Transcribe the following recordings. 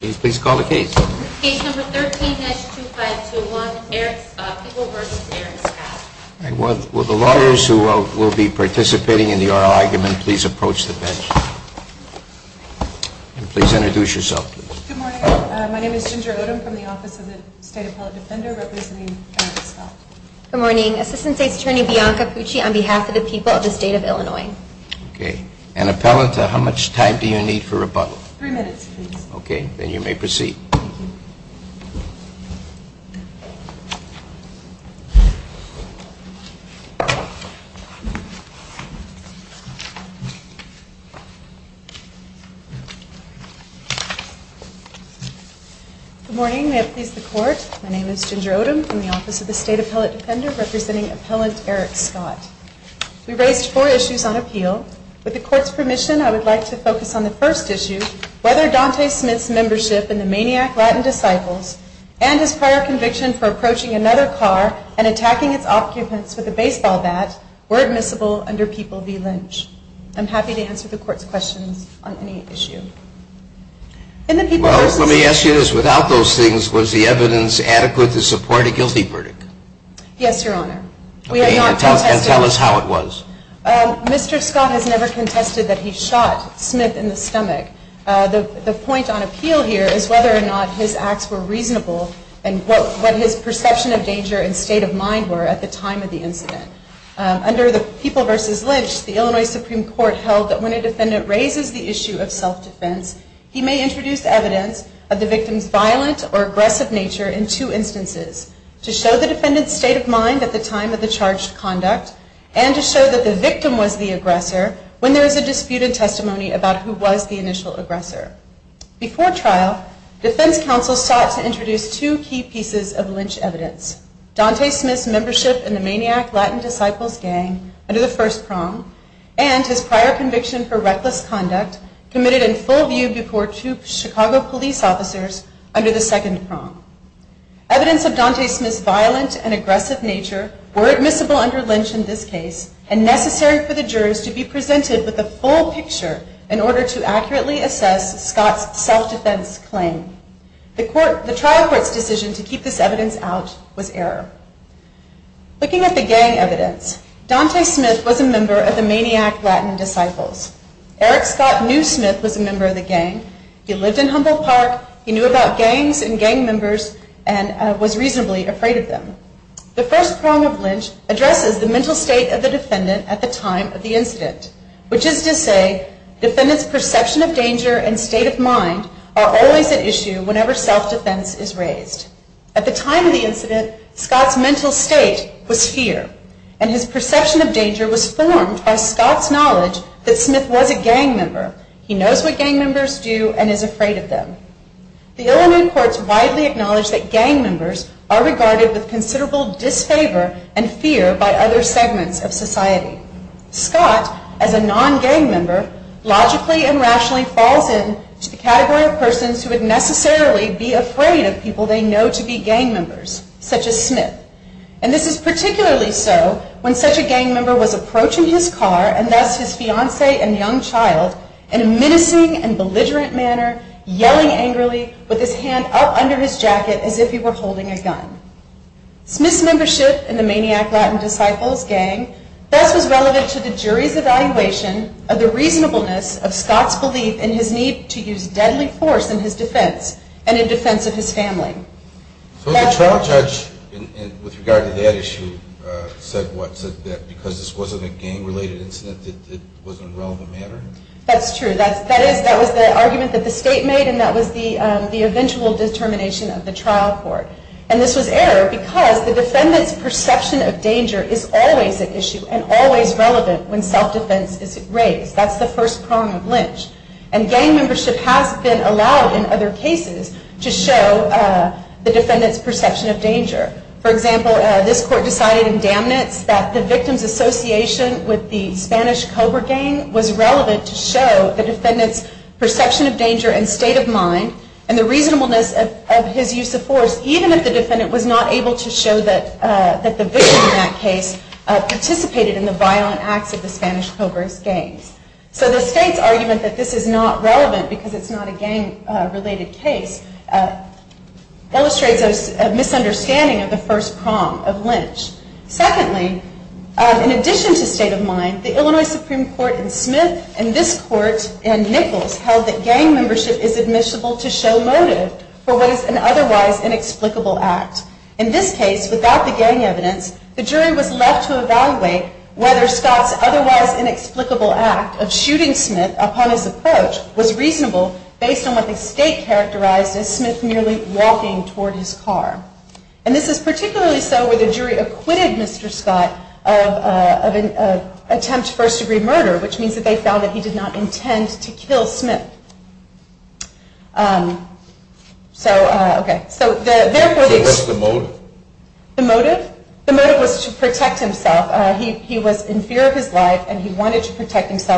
Good morning. Assistant State's Attorney, Bianca Pucci, on behalf of the people of the State of Illinois. And Appellant, how much time do you need for rebuttal? Three minutes, please. Okay, then you may proceed. Good morning. May it please the Court, my name is Ginger Odom from the Office of the State Appellate Appellant, Eric Scott. We raised four issues on appeal. With the Court's permission, I would like to focus on the first issue, whether Dante Smith's membership in the Maniac Latin Disciples and his prior conviction for approaching another car and attacking its occupants with a baseball bat were admissible under People v. Lynch. I'm happy to answer the Court's questions on any issue. Well, let me ask you this. Without those things, was the evidence adequate to support a guilty verdict? Yes, Your Honor. Okay, and tell us how it was. Mr. Scott has never contested that he shot Smith in the stomach. The point on appeal here is whether or not his acts were reasonable and what his perception of danger and state of mind were at the time of the incident. Under the People v. Lynch, the Illinois Supreme Court held that when a defendant raises the issue of self-defense, he may introduce evidence of the victim's violent or aggressive nature in two instances, to show the defendant's state of mind at the time of the charged conduct and to show that the victim was the aggressor when there is a disputed testimony about who was the initial aggressor. Before trial, defense counsel sought to introduce two key pieces of Lynch evidence. Dante Smith's membership in the Maniac Latin Disciples gang under the first prong and his prior conviction for reckless conduct committed in full view before two Chicago police officers under the second prong. Evidence of Dante Smith's violent and aggressive nature were admissible under Lynch in this case and necessary for the jurors to be presented with the full picture in order to accurately assess Scott's self-defense claim. The trial court's decision to keep this evidence out was error. Looking at the gang evidence, Dante Smith was a member of the Maniac Latin Disciples. Eric Scott knew Smith was a member of the gang. He lived in Humboldt Park. He knew about gangs and gang members and was reasonably afraid of them. The first prong of Lynch addresses the mental state of the defendant at the time of the incident, which is to say, defendant's perception of danger and state of mind are always at issue whenever self-defense is raised. At the time of the incident, Scott's mental state was fear and his perception of danger was formed by Scott's knowledge that Smith was a gang member. He knows what gang members do and is afraid of them. The Illinois courts widely acknowledge that gang members are regarded with considerable disfavor and fear by other segments of society. Scott, as a non-gang member, logically and rationally falls into the category of persons who would necessarily be afraid of people they know to be gang members, such as Smith. And this is particularly so when such a gang member was approaching his car and thus his fiance and young child in a menacing and belligerent manner, yelling angrily with his hand up under his jacket as if he were holding a gun. Smith's membership in the Maniac Latin Disciples gang thus was the reasonableness of Scott's belief in his need to use deadly force in his defense and in defense of his family. So the trial judge, with regard to that issue, said that because this wasn't a gang-related incident that it was in a relevant manner? That's true. That was the argument that the state made and that was the eventual determination of the trial court. And this was error because the first prong of lynch. And gang membership has been allowed in other cases to show the defendant's perception of danger. For example, this court decided in Damn It's that the victim's association with the Spanish Cobra gang was relevant to show the defendant's perception of danger and state of mind and the reasonableness of his use of force, even if the defendant was not able to show that the victim in that case participated in the violent acts of the gang. So the state's argument that this is not relevant because it's not a gang-related case illustrates a misunderstanding of the first prong of lynch. Secondly, in addition to state of mind, the Illinois Supreme Court in Smith and this court in Nichols held that gang membership is admissible to show motive for what is an otherwise inexplicable act. In this case, without the gang evidence, the jury was left to evaluate whether Scott's otherwise inexplicable act of shooting Smith upon his approach was reasonable based on what the state characterized as Smith merely walking toward his car. And this is particularly so where the jury acquitted Mr. Scott of an attempt to first degree murder, which means that they found that he did not intend to kill himself,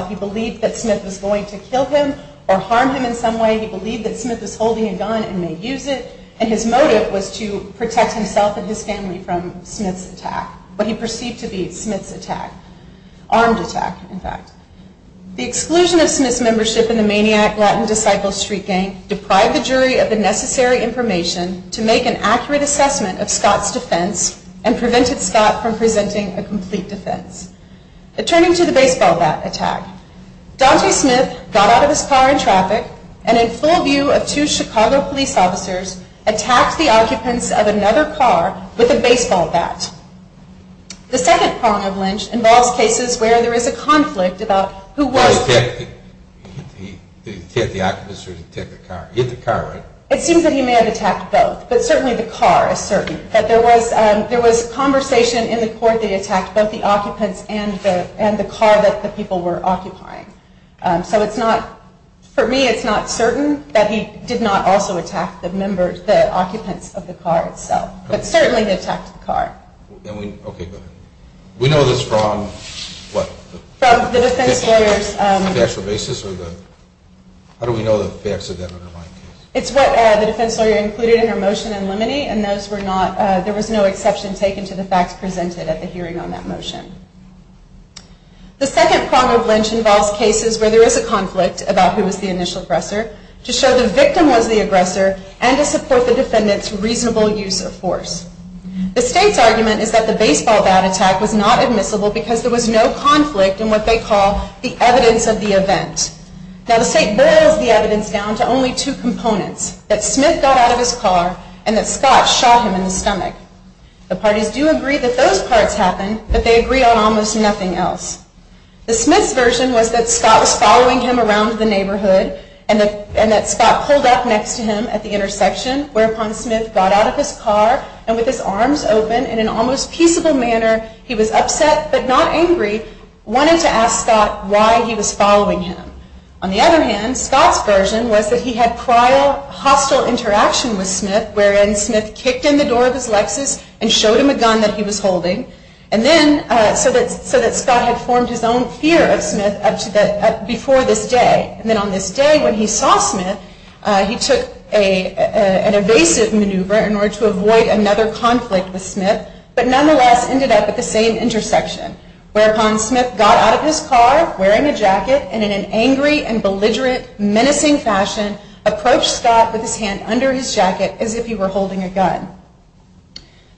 he believed that Smith was going to kill him or harm him in some way, he believed that Smith was holding a gun and may use it, and his motive was to protect himself and his family from Smith's attack, what he perceived to be Smith's attack, armed attack in fact. The exclusion of Smith's membership in the Maniac Latin Disciples Street Gang deprived the jury of the necessary information to make an accurate assessment of Scott's defense and prevented Scott from committing a baseball bat attack. Daunte Smith got out of his car in traffic and in full view of two Chicago police officers, attacked the occupants of another car with a baseball bat. The second prong of Lynch involves cases where there is a conflict about who was who. Did he attack the occupants or did he attack the car? He hit the car, right? It seems that he may have attacked both, but certainly the car is certain. But there was conversation in the court that he attacked both the occupants and the car that the people were occupying. So it's not, for me it's not certain that he did not also attack the occupants of the car itself, but certainly he attacked the car. Okay, go ahead. We know this from what? From the defense lawyers. The factual basis or the, how do we know the facts of that underlying case? It's what the defense lawyer included in her motion in limine and those were not, there was no exception taken to the facts presented at the hearing on that motion. The second prong of Lynch involves cases where there is a conflict about who was the initial aggressor to show the victim was the aggressor and to support the defendant's reasonable use of force. The state's argument is that the baseball bat attack was not admissible because there was no conflict in what they call the evidence of the event. Now the state boils the evidence down to only two components, that Smith got out of his car and that Scott shot him in the stomach. The parties do agree that those parts happened, but they agree on almost nothing else. The Smith's version was that Scott was following him around the intersection, whereupon Smith got out of his car and with his arms open in an almost peaceable manner, he was upset but not angry, wanted to ask Scott why he was following him. On the other hand, Scott's version was that he had prior hostile interaction with Smith, wherein Smith kicked in the door of his Lexus and showed him a gun that he was holding, and then so that Scott had formed his own fear of Smith before this day. And then on this day when he saw Smith, he took an evasive maneuver in order to avoid another conflict with Smith, but nonetheless ended up at the same intersection, whereupon Smith got out of his car wearing a jacket and in an angry and belligerent, menacing fashion, approached Scott with his hand under his jacket as if he were holding a gun.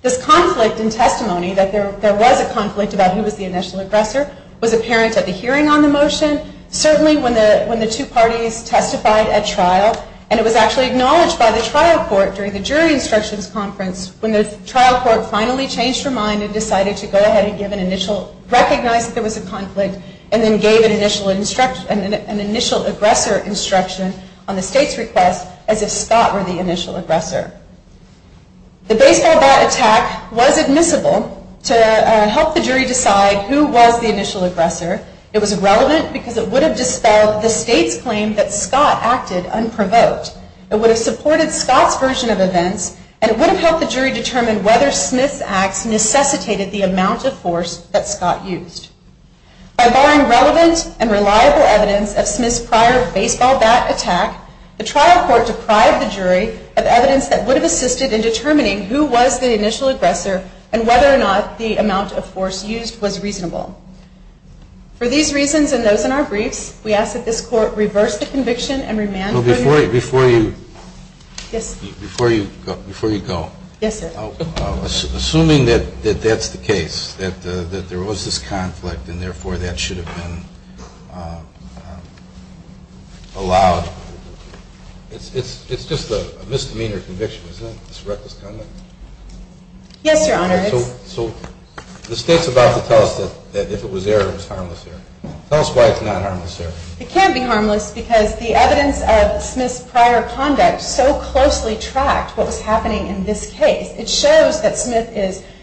This conflict in testimony that there was a conflict about who was the initial aggressor was apparent at the hearing on the motion, certainly when the two parties testified at trial, and it was actually acknowledged by the trial court during the jury instructions conference when the trial court finally changed her mind and decided to go ahead and recognize that there was a conflict and then gave an initial aggressor instruction on the state's request as if Scott were the initial aggressor. The baseball bat attack was admissible to help the jury decide who was the initial aggressor. It was relevant because it would have dispelled the state's suspicion that Scott acted unprovoked. It would have supported Scott's version of events, and it would have helped the jury determine whether Smith's acts necessitated the amount of force that Scott used. By barring relevant and reliable evidence of Smith's prior baseball bat attack, the trial court deprived the jury of evidence that would have assisted in determining who was the initial aggressor and whether or not the amount of force used was reasonable. For these reasons and those in our briefs, we ask that this court reverse the conviction and remand the jury. Before you go, assuming that that's the case, that there was this conflict and therefore that should have been allowed, it's just a misdemeanor conviction, isn't it? It's a reckless conduct? So the state's about to tell us that if it was error, it was harmless error. Tell us why it's not harmless error. It can't be harmless because the evidence of Smith's prior conduct so closely tracked what was happening in this case. It shows that Smith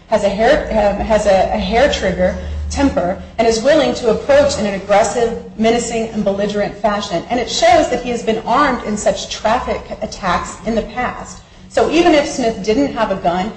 has a hair-trigger temper and is willing to approach in an aggressive, menacing, and belligerent fashion. And it shows that he has been armed in such traffic attacks in the past. So even if Smith didn't have a gun,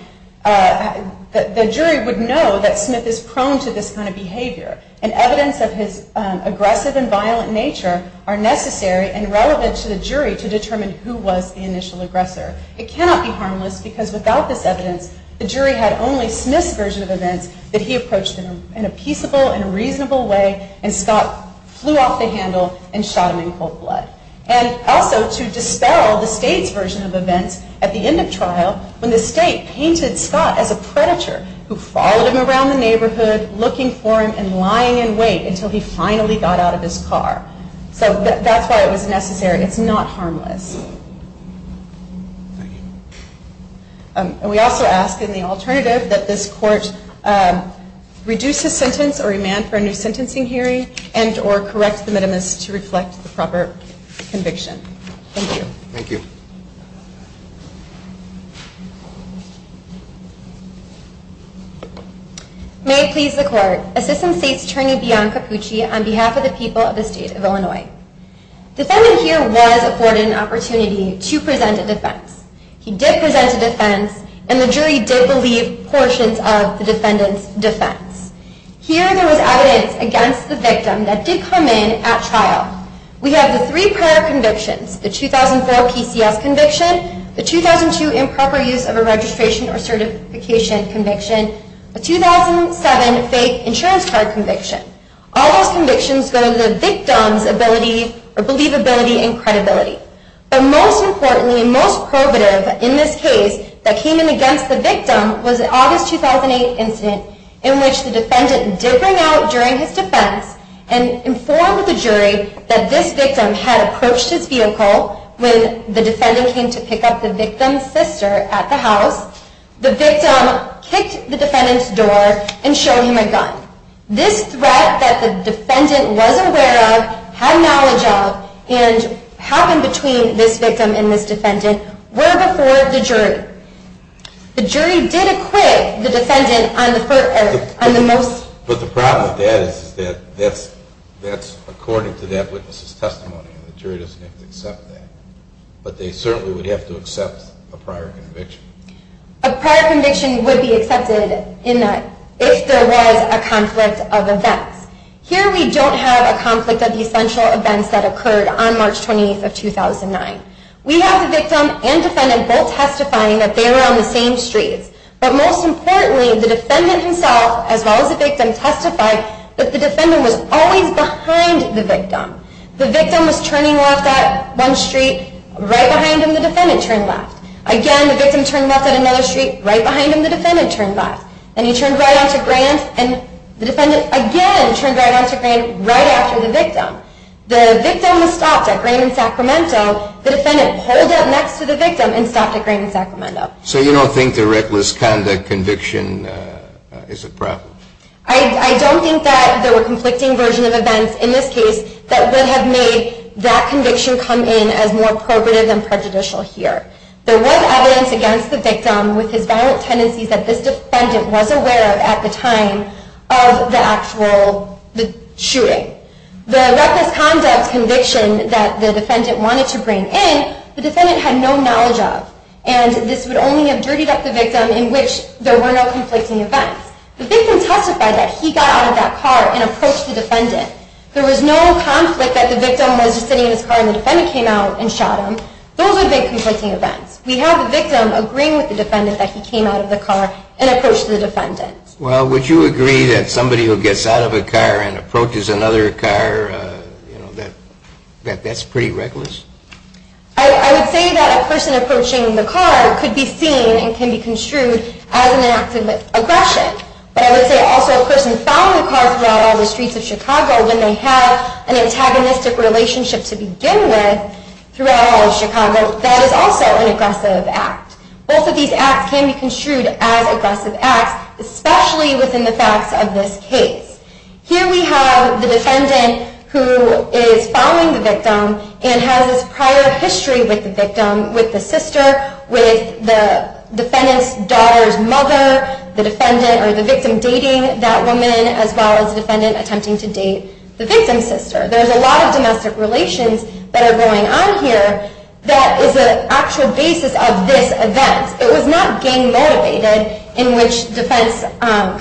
the jury would know that Smith is prone to this kind of behavior. And evidence of his aggressive and violent nature are necessary and relevant to the jury to determine who was the initial aggressor. It cannot be harmless because without this evidence, the jury had only Smith's version of events that he approached in a peaceable and reasonable way and Scott flew off the handle and shot him in cold blood. And also to dispel the state's version of events, at the end of trial, when the state painted Scott as a predator who followed him around the neighborhood looking for him and lying in wait until he finally got out of his car. So that's why it was necessary. It's not harmless. And we also ask in the alternative that this court reduce his sentence or demand for a new sentencing hearing and or correct the minimus to reflect the proper conviction. Thank you. Thank you. May it please the court, Assistant State's Attorney, Beyond Capucci, on behalf of the people of the State of Illinois. The defendant here was afforded an opportunity to present a defense. He did present a defense and the jury did believe portions of the defendant's defense. Here there was evidence against the victim that did come in at trial. We have the three prior convictions, the 2004 PCS conviction, the 2002 improper use of a registration or certification conviction, the 2007 fake insurance card conviction. All those convictions go to the victim's ability or believability and credibility. But most importantly and most probative in this case that came in against the victim was the August 2008 incident in which the defendant did bring out during his defense and informed the jury that this victim had approached his vehicle when the defendant came to pick up the victim's sister at the house. The victim kicked the defendant's door and showed him a gun. This threat that the defendant was aware of, had knowledge of, and happened between this victim and this defendant were before the jury. The jury did acquit the defendant on the most... But the problem with that is that that's according to that witness's testimony. The jury doesn't have to accept that. But they certainly would have to accept a prior conviction. A prior conviction would be accepted if there was a conflict of events. Here we don't have a conflict of the essential events that occurred on March 28th of 2009. We have the victim and defendant both testifying that they were on the same streets. But most importantly the defendant himself as well as the victim testified that the defendant was always behind the victim. The victim was turning left at one street. Right behind him the defendant turned left. Again the victim turned left at another street. Right behind him the defendant turned left. And he turned right onto Grant. And the defendant again turned right onto Grant right after the victim. The victim was stopped at Grant and Sacramento. The defendant pulled up next to the victim and stopped at Grant and Sacramento. So you don't think the reckless conduct conviction is a problem? I don't think that there were conflicting versions of events in this case that would have made that conviction come in as more probative and prejudicial here. There was evidence against the victim with his violent tendencies that this defendant was aware of at the time of the actual shooting. The reckless conduct conviction that the defendant wanted to bring in, the defendant had no knowledge of. And this would only have dirtied up the victim in which there were no conflicting events. The victim testified that he got out of that car and approached the defendant. There was no conflict that the victim was just sitting in his car and the defendant came out and shot him. Those are big conflicting events. We have the victim agreeing with the defendant that he came out of the car and approached the defendant. Well, would you agree that somebody who gets out of a car and approaches another car, you know, that that's pretty reckless? I would say that a person approaching the car could be seen and can be construed as an act of aggression. But I would say also a person following the car throughout all the streets of Chicago, when they have an antagonistic relationship to begin with throughout all of Chicago, that is also an aggressive act. Both of these acts can be construed as aggressive acts, especially within the facts of this case. Here we have the defendant who is following the victim and has this prior history with the victim, with the sister, with the defendant's daughter's mother, the victim dating that woman, as well as the defendant attempting to date the victim's sister. There's a lot of domestic relations that are going on here that is an actual basis of this event. It was not gang-motivated in which defense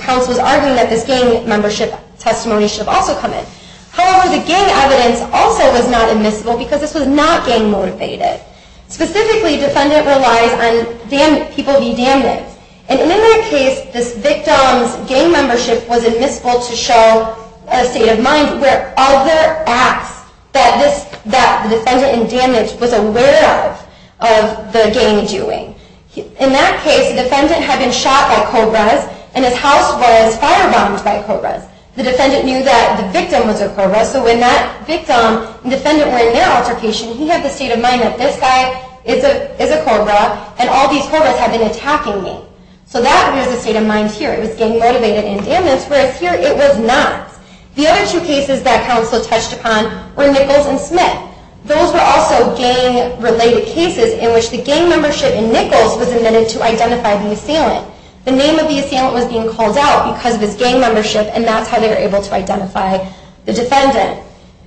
counsel was arguing that this gang membership testimony should also come in. However, the gang evidence also was not admissible because this was not gang-motivated. Specifically, defendant relies on people being damned. In that case, the defendant had been shot by cobras and his house was fire-bombed by cobras. The defendant knew that the victim was a cobra, so when that victim and defendant were in their altercation, he had the state of mind that this guy is a cobra and all these cobras had been attacking him. So that was the state of mind here. It was gang-motivated and damned, whereas here it was not. The other two cases that counsel touched upon were Nichols and Smith. Those were also gang-related cases in which the gang membership in Nichols was admitted to identify the assailant. The name of the assailant was being called out because of his gang membership and that's how they were able to identify the defendant.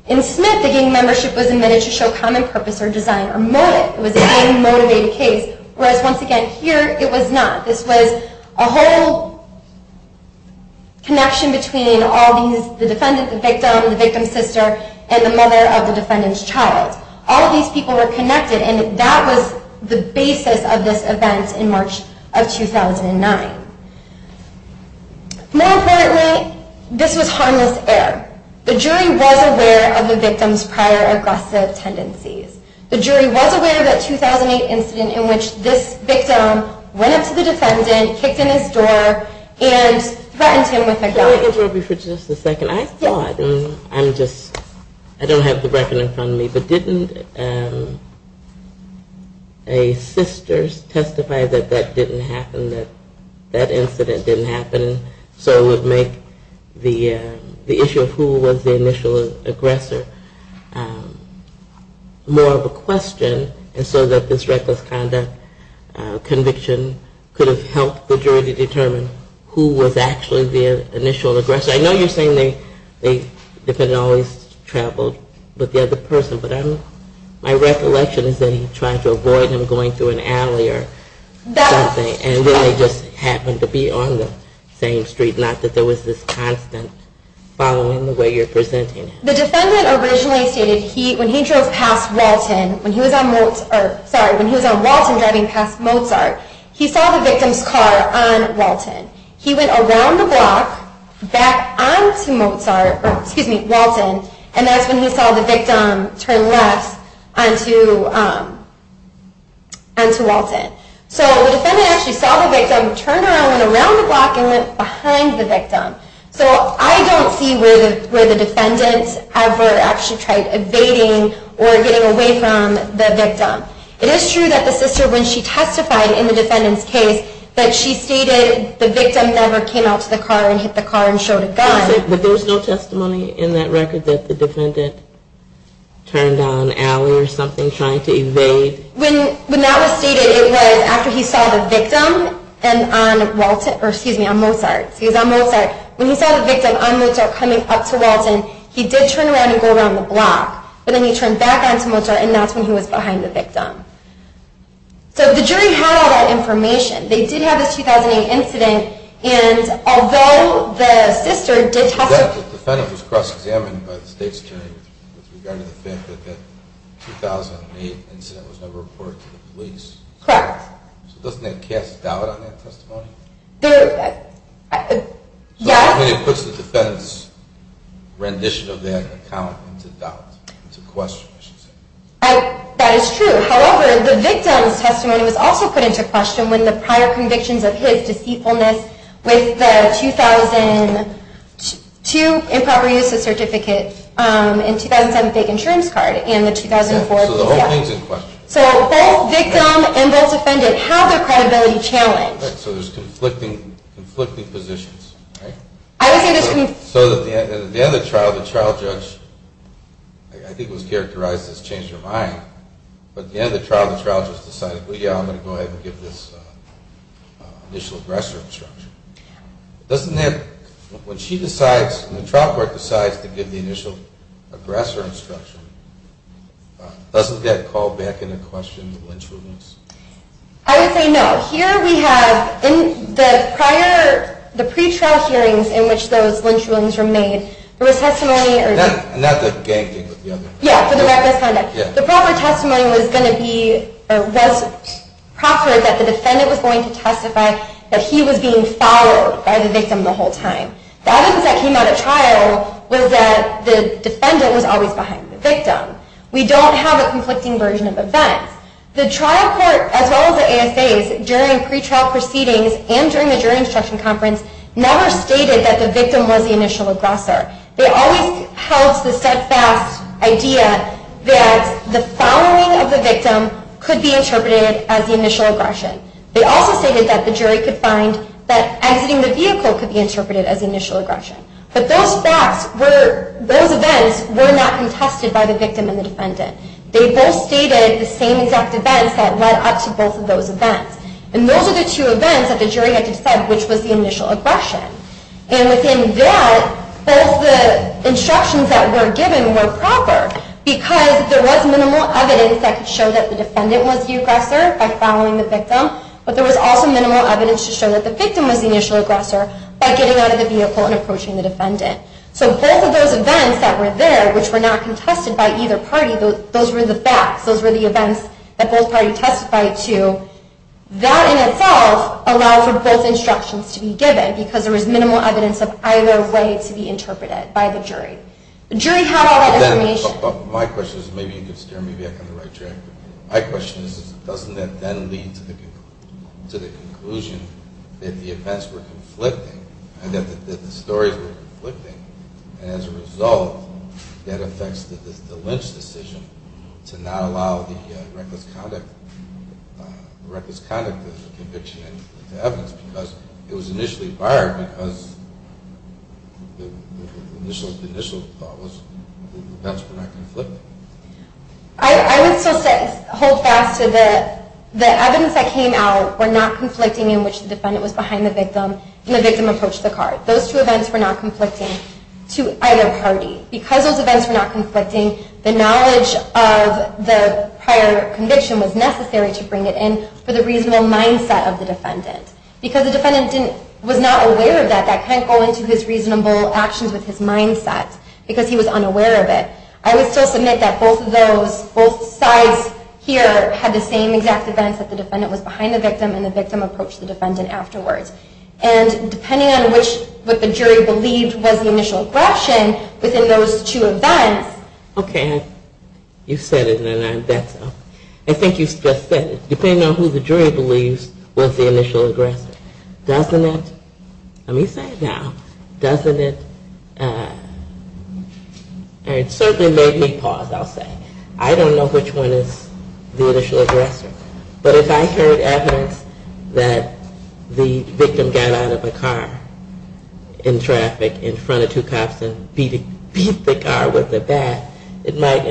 In Smith, the gang membership was admitted to show common purpose or design or motive. It was a gang-motivated case, whereas once again, here it was not. This was a whole connection between the victim, the victim's sister, and the mother of the defendant's child. All of these people were connected and that was the basis of this event in March of 2009. More importantly, this was harmless error. The jury was aware of the victim's prior aggressive tendencies. The jury was aware of that 2008 incident in which this victim went up to the defendant, kicked in his door, and threatened him with a gun. Can I interrupt you for just a second? I thought, and I'm just, I don't have the record in front of me, but didn't a sister testify that that didn't happen, that that incident didn't happen? So it would make the issue of who was the initial aggressor more of a question, and so that this reckless conduct conviction could have helped the jury to determine who was actually the initial aggressor. I know you're saying the defendant always traveled with the other person, but my recollection is that he tried to avoid him going through an alley or something, and then they just happened to be on the same street. Not that there was this constant following the way you're presenting it. The defendant originally stated when he drove past Walton, when he was on Walton driving past Mozart, he saw the victim's car on Walton. He went around the block, back onto Walton, and that's when he saw the victim turn left onto Walton. So the defendant actually saw the victim turn around, went around the block, and went behind the victim. So I don't see where the defendant ever actually tried evading or getting away from the victim. It is true that the sister, when she testified in the defendant's case, that she stated the victim never came out to the car and hit the car and showed a gun. But there was no testimony in that record that the defendant turned down an alley or something, trying to evade? When that was stated, it was after he saw the victim on Mozart. He was on Mozart. When he saw the victim on Mozart coming up to Walton, he did turn around and go around the block. But then he turned back onto Mozart, and that's when he was behind the victim. So the jury had all that information. They did have this 2008 incident, and although the sister did testify... The fact that the defendant was cross-examined by the state's jury with regard to the fact that that 2008 incident was never reported to the police... Correct. So doesn't that cast doubt on that testimony? Yes. It puts the defendant's rendition of that account into doubt, into question, I should say. That is true. However, the victim's testimony was also put into question when the prior convictions of his deceitfulness with the 2002 improper use of certificate, and 2007 fake insurance card, and the 2004... So the whole thing's in question. So both victim and both defendant have their credibility challenged. So there's conflicting positions. So at the end of the trial, the trial judge, I think it was characterized as change your mind, but at the end of the trial, the trial judge decided, well, yeah, I'm going to go ahead and give this initial aggressor instruction. When she decides, when the trial court decides to give the initial aggressor instruction, doesn't that call back into question the lynch rulings? I would say no. Here we have, in the prior, the pretrial hearings in which those lynch rulings were made, there was testimony... Not the ganging with the other... Yeah, for the reckless conduct. The proper testimony was going to be, or was proffered, that the defendant was going to testify that he was being followed by the victim the whole time. The evidence that came out at trial was that the defendant was always behind the victim. We don't have a conflicting version of events. The trial court, as well as the ASAs, during pretrial proceedings and during the jury instruction conference, never stated that the victim was the initial aggressor. They always held the steadfast idea that the following of the victim could be interpreted as the initial aggression. They also stated that the jury could find that exiting the vehicle could be interpreted as the initial aggression. But those facts, those events, were not contested by the victim and the defendant. They both stated the same exact events that led up to both of those events. And those are the two events that the jury had to decide which was the initial aggression. And within that, both the instructions that were given were proper. Because there was minimal evidence that could show that the defendant was the aggressor by following the victim. But there was also minimal evidence to show that the victim was the initial aggressor by getting out of the vehicle and approaching the defendant. So both of those events that were there, which were not contested by either party, those were the facts. Those were the events that both parties testified to. That in itself allowed for both instructions to be given because there was minimal evidence of either way to be interpreted by the jury. The jury had all that information. My question is, doesn't that then lead to the conclusion that the events were conflicting and that the stories were conflicting and as a result that affects the Lynch decision to not allow the reckless conduct conviction into evidence because it was initially barred because the initial thought was the events were not conflicting. I would still hold fast to the evidence that came out were not conflicting in which the defendant was behind the victim and the victim approached the car. Those two events were not conflicting to either party. Because those events were not conflicting, the knowledge of the prior conviction was necessary to bring it in for the reasonable mindset of the defendant. Because the defendant was not aware of that, that can't go into his reasonable actions with his mindset because he was unaware of it. I would still submit that both sides here had the same exact events that the defendant was behind the victim and the victim approached the defendant afterwards. And depending on what the jury believed was the initial question within those two events. Okay, you said it and I think you just said it. Depending on who the jury believes was the initial aggressor. Doesn't it, let me say it now, doesn't it it certainly made me pause, I'll say. I don't know which one is the initial aggressor. But if I heard evidence that the victim got out of a car in traffic in front of two cops and beat the car with a bat, it might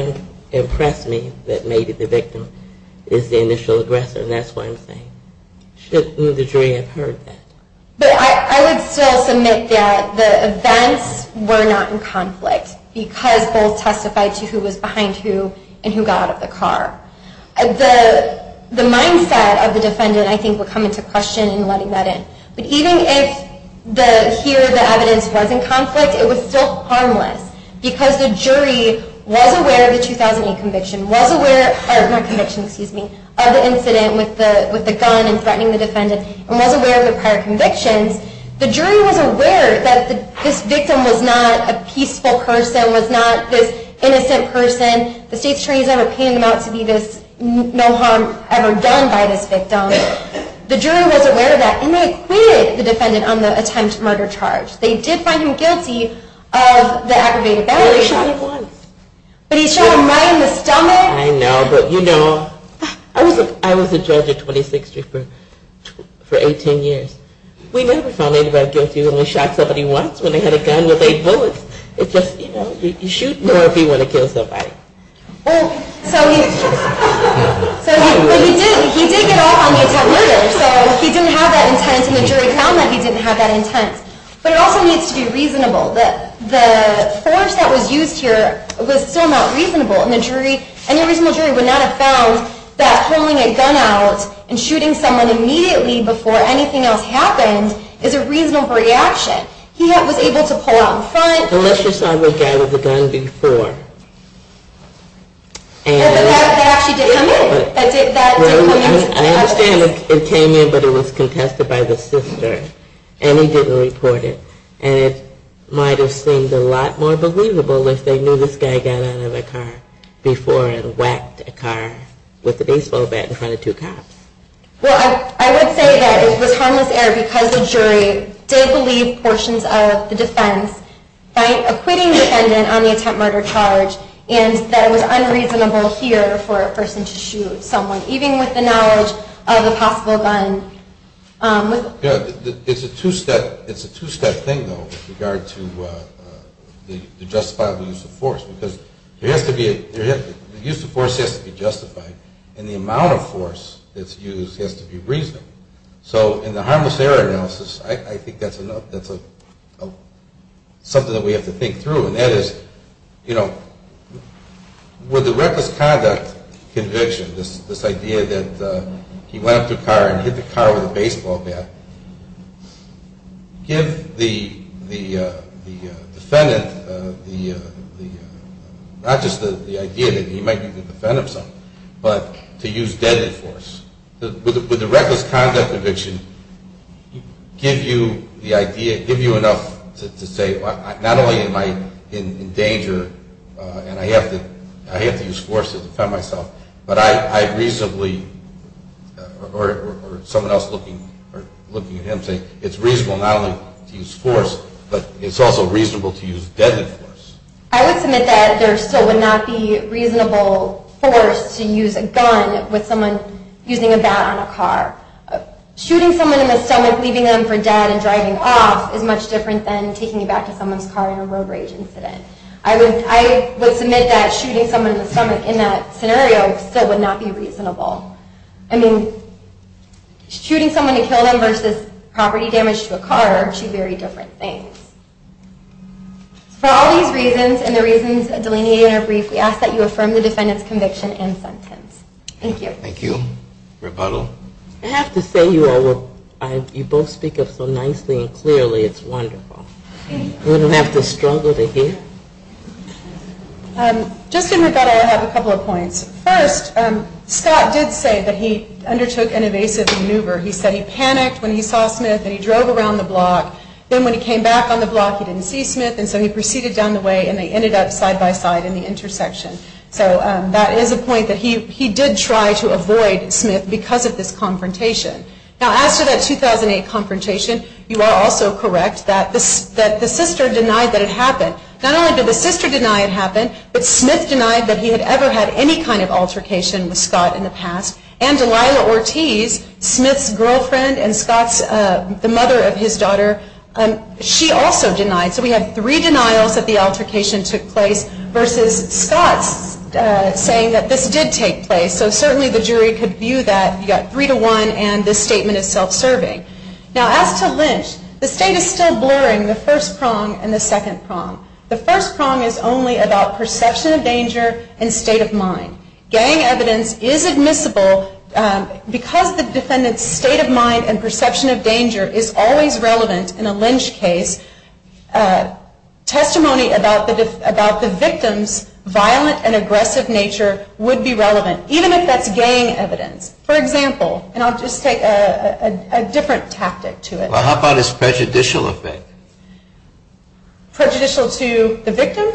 impress me that maybe the victim is the initial aggressor and that's what I'm saying. Shouldn't the jury have heard that? But I would still submit that the events were not in conflict because both testified to who was behind who and who got out of the car. The mindset of the defendant I think would come into question in letting that in. But even if here the evidence was in conflict, it was still harmless because the jury was aware of the 2008 conviction, was aware, not conviction, excuse me, of the incident with the gun and threatening the defendant and was aware of the prior convictions the jury was aware that this victim was not a peaceful person, was not this innocent person, the state's attorneys never painted him out to be this no harm ever done by this victim. The jury was aware of that and they acquitted the defendant on the attempted murder charge. They did find him guilty of the aggravated battery. But he shot him right in the stomach. I know, but you know, I was a judge at 26th Street for 18 years. We never found anybody guilty who only shot somebody once when they had a gun with eight bullets. It's just, you know, you shoot more if you want to kill somebody. But he did get off on the attempted murder, so he didn't have that intent and the jury found that he didn't have that intent. But it also needs to be reasonable. The force that was used here was still not reasonable and the jury would not have found that pulling a gun out and shooting someone immediately before anything else happened is a reasonable reaction. He was able to pull out in front. Unless you saw the guy with the gun before. That actually did come in. I understand it came in, but it was contested by the sister. And he didn't report it. And it might have seemed a lot more believable if they knew this guy got out of the car before and whacked a car with a baseball bat in front of two cops. Well, I would say that it was harmless error because the jury did believe portions of the defense by acquitting the defendant on the attempted murder charge and that it was unreasonable here for a person to shoot someone, even with the knowledge of a possible gun. It's a two-step thing, though, with regard to the justifiable use of force because the use of force has to be justified and the amount of force that's used has to be reasonable. So in the harmless error analysis, I think that's something that we have to think through and that is with the reckless conduct conviction, this idea that he went up to a car and hit the car with a baseball bat, give the defendant not just the idea that he might be the defendant of something, but to use deadly force. Would the reckless conduct conviction give you enough to say, not only am I in danger and I have to use force to defend myself, but I reasonably or someone else looking at him saying it's reasonable not only to use force, but it's also reasonable to use deadly force. I would submit that there still would not be reasonable force to use a gun with someone using a bat on a car. Shooting someone in the stomach, leaving them for dead and driving off is much different than taking you back to someone's car in a road rage incident. I would submit that shooting someone in the stomach in that scenario still would not be reasonable. I mean, shooting someone to kill them versus property damage to a car are two very different things. For all these reasons and the reasons delineated in our brief, we ask that you affirm the defendant's conviction and sentence. Thank you. Thank you. Rebuttal? I have to say you all both speak up so nicely and clearly. It's wonderful. We don't have to struggle to hear. Just in rebuttal, I have a couple of points. First, Scott did say that he undertook an evasive maneuver. He said he panicked when he saw Smith and he drove around the block. Then when he came back on the block, he didn't see Smith and so he proceeded down the way and they ended up side by side in the intersection. So that is a point that he did try to avoid Smith because of this confrontation. Now as to that 2008 confrontation, you are also correct that the sister denied that it happened. Not only did the sister deny it happened, but Smith denied that he had ever had any kind of altercation with Scott in the past. And Delilah Ortiz, Smith's girlfriend and the mother of his daughter, she also denied. So we have three denials that the altercation took place versus Scott's saying that this did take place. So certainly the jury could view that. You've got three to one and this statement is self-serving. Now as to Lynch, the state is still blurring the first prong and the second prong. The first prong is only about perception of danger and state of mind. Gang evidence is admissible because the defendant's state of mind and perception of danger is always relevant in a Lynch case. Testimony about the victim's violent and aggressive nature would be relevant, even if that's gang evidence. For example, and I'll just take a different tactic to it. Well how about his prejudicial effect? Prejudicial to the victim?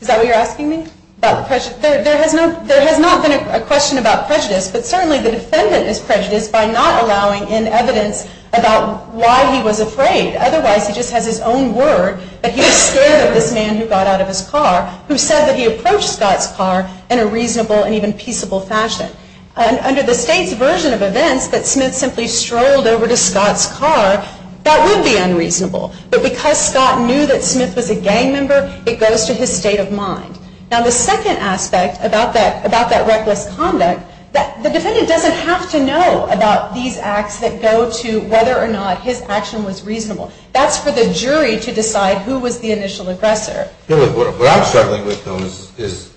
Is that what you're asking me? There has not been a question about prejudice, but certainly the defendant is prejudiced by not allowing in evidence about why he was afraid. Otherwise he just has his own word that he was scared of this man who got out of his car who said that he approached Scott's car in a reasonable and even peaceable fashion. Under the state's version of events that Smith simply strolled over to Scott's car, that would be unreasonable. But because Scott knew that Smith was a gang member, it goes to his state of mind. Now the second aspect about that reckless conduct, the defendant doesn't have to know about these acts that go to whether or not his action was reasonable. That's for the jury to decide who was the initial aggressor. What I'm struggling with though is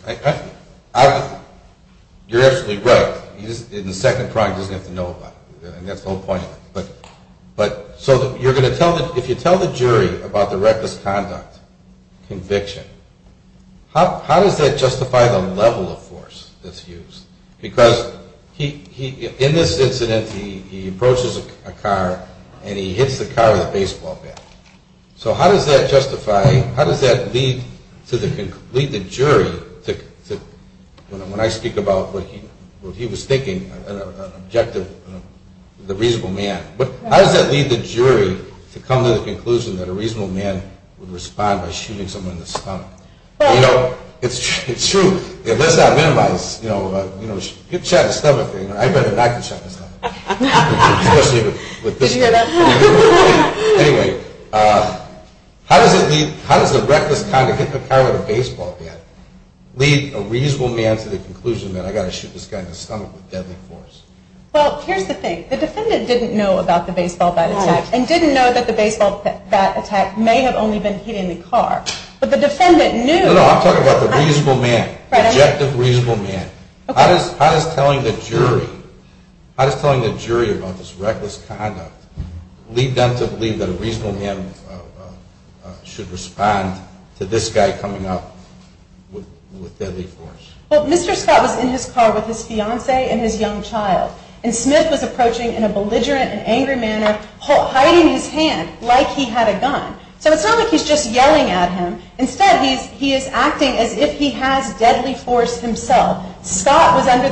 you're absolutely right, in the second crime he doesn't have to know about it. And that's the whole point of it. So you're going to tell the jury about the reckless conduct conviction. How does that justify the level of force that's used? Because in this incident he approaches a car and he hits the car with a baseball bat. So how does that justify, how does that lead the jury, when I speak about what he was thinking, an objective, a reasonable man. How does that lead the jury to come to the conclusion that a reasonable man would respond by shooting someone in the stomach? It's true, let's not minimize, get shot in the stomach. I'd rather not get shot in the stomach. Did you hear that? Anyway, how does the reckless conduct, hit the car with a baseball bat, lead a reasonable man to the conclusion that I've got to shoot this guy in the stomach with deadly force? Well, here's the thing. The defendant didn't know about the baseball bat attack and didn't know that the baseball bat attack may have only been hitting the car. But the defendant knew. No, no, I'm talking about the reasonable man, the objective reasonable man. How does telling the jury, how does telling the jury about this reckless conduct lead them to believe that a reasonable man should respond to this guy coming up with deadly force? Well, Mr. Scott was in his car with his fiance and his young child. And Smith was approaching in a belligerent and angry manner, hiding his hand like he had a gun. So it's not like he's just yelling at him. Instead, he is acting as if he has deadly force himself. Scott was under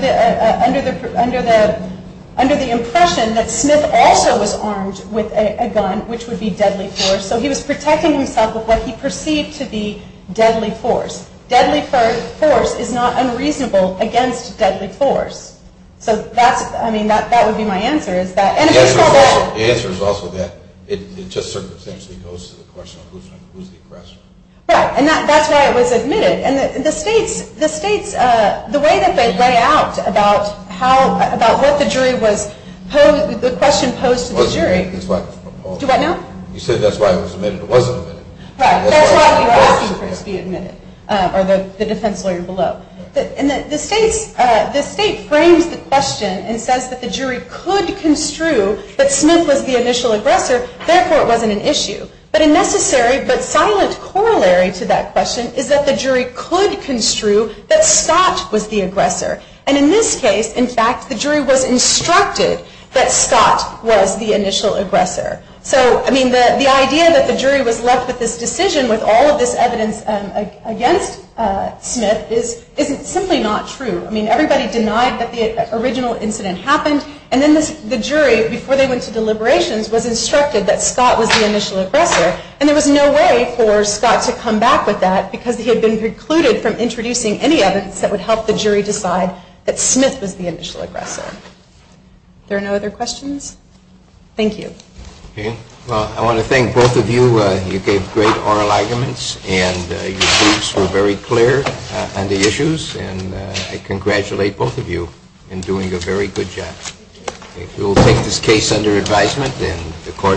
the impression that Smith also was armed with a gun, which would be deadly force. So he was protecting himself with what he perceived to be deadly force. Deadly force is not unreasonable against deadly force. So that would be my answer. The answer is also that it just circumstantially goes to the question of who's the aggressor. Right, and that's why it was admitted. And the states, the way that they lay out about how, about what the jury was, the question posed to the jury, do I know? You said that's why it was admitted. It wasn't admitted. Right, that's why we were asking for it to be admitted, or the defense lawyer below. The states, the state frames the question and says that the jury could construe that Smith was the initial aggressor, therefore it wasn't an issue. But a necessary but silent corollary to that question is that the jury could construe that Scott was the aggressor. And in this case, in fact, the jury was instructed that Scott was the initial aggressor. So, I mean, the idea that the jury was left with this decision with all of this evidence against Smith is simply not true. I mean, everybody denied that the original incident happened, and then the jury, before they went to deliberations, was instructed that Scott was the initial aggressor. And there was no way for Scott to come back with that because he had been precluded from introducing any evidence that would help the jury decide that Smith was the initial aggressor. There are no other questions? Thank you. Well, I want to thank both of you. You gave great oral arguments, and your tweets were very clear on the issues, and I congratulate both of you in doing a very good job. We will take this case under advisement, and the court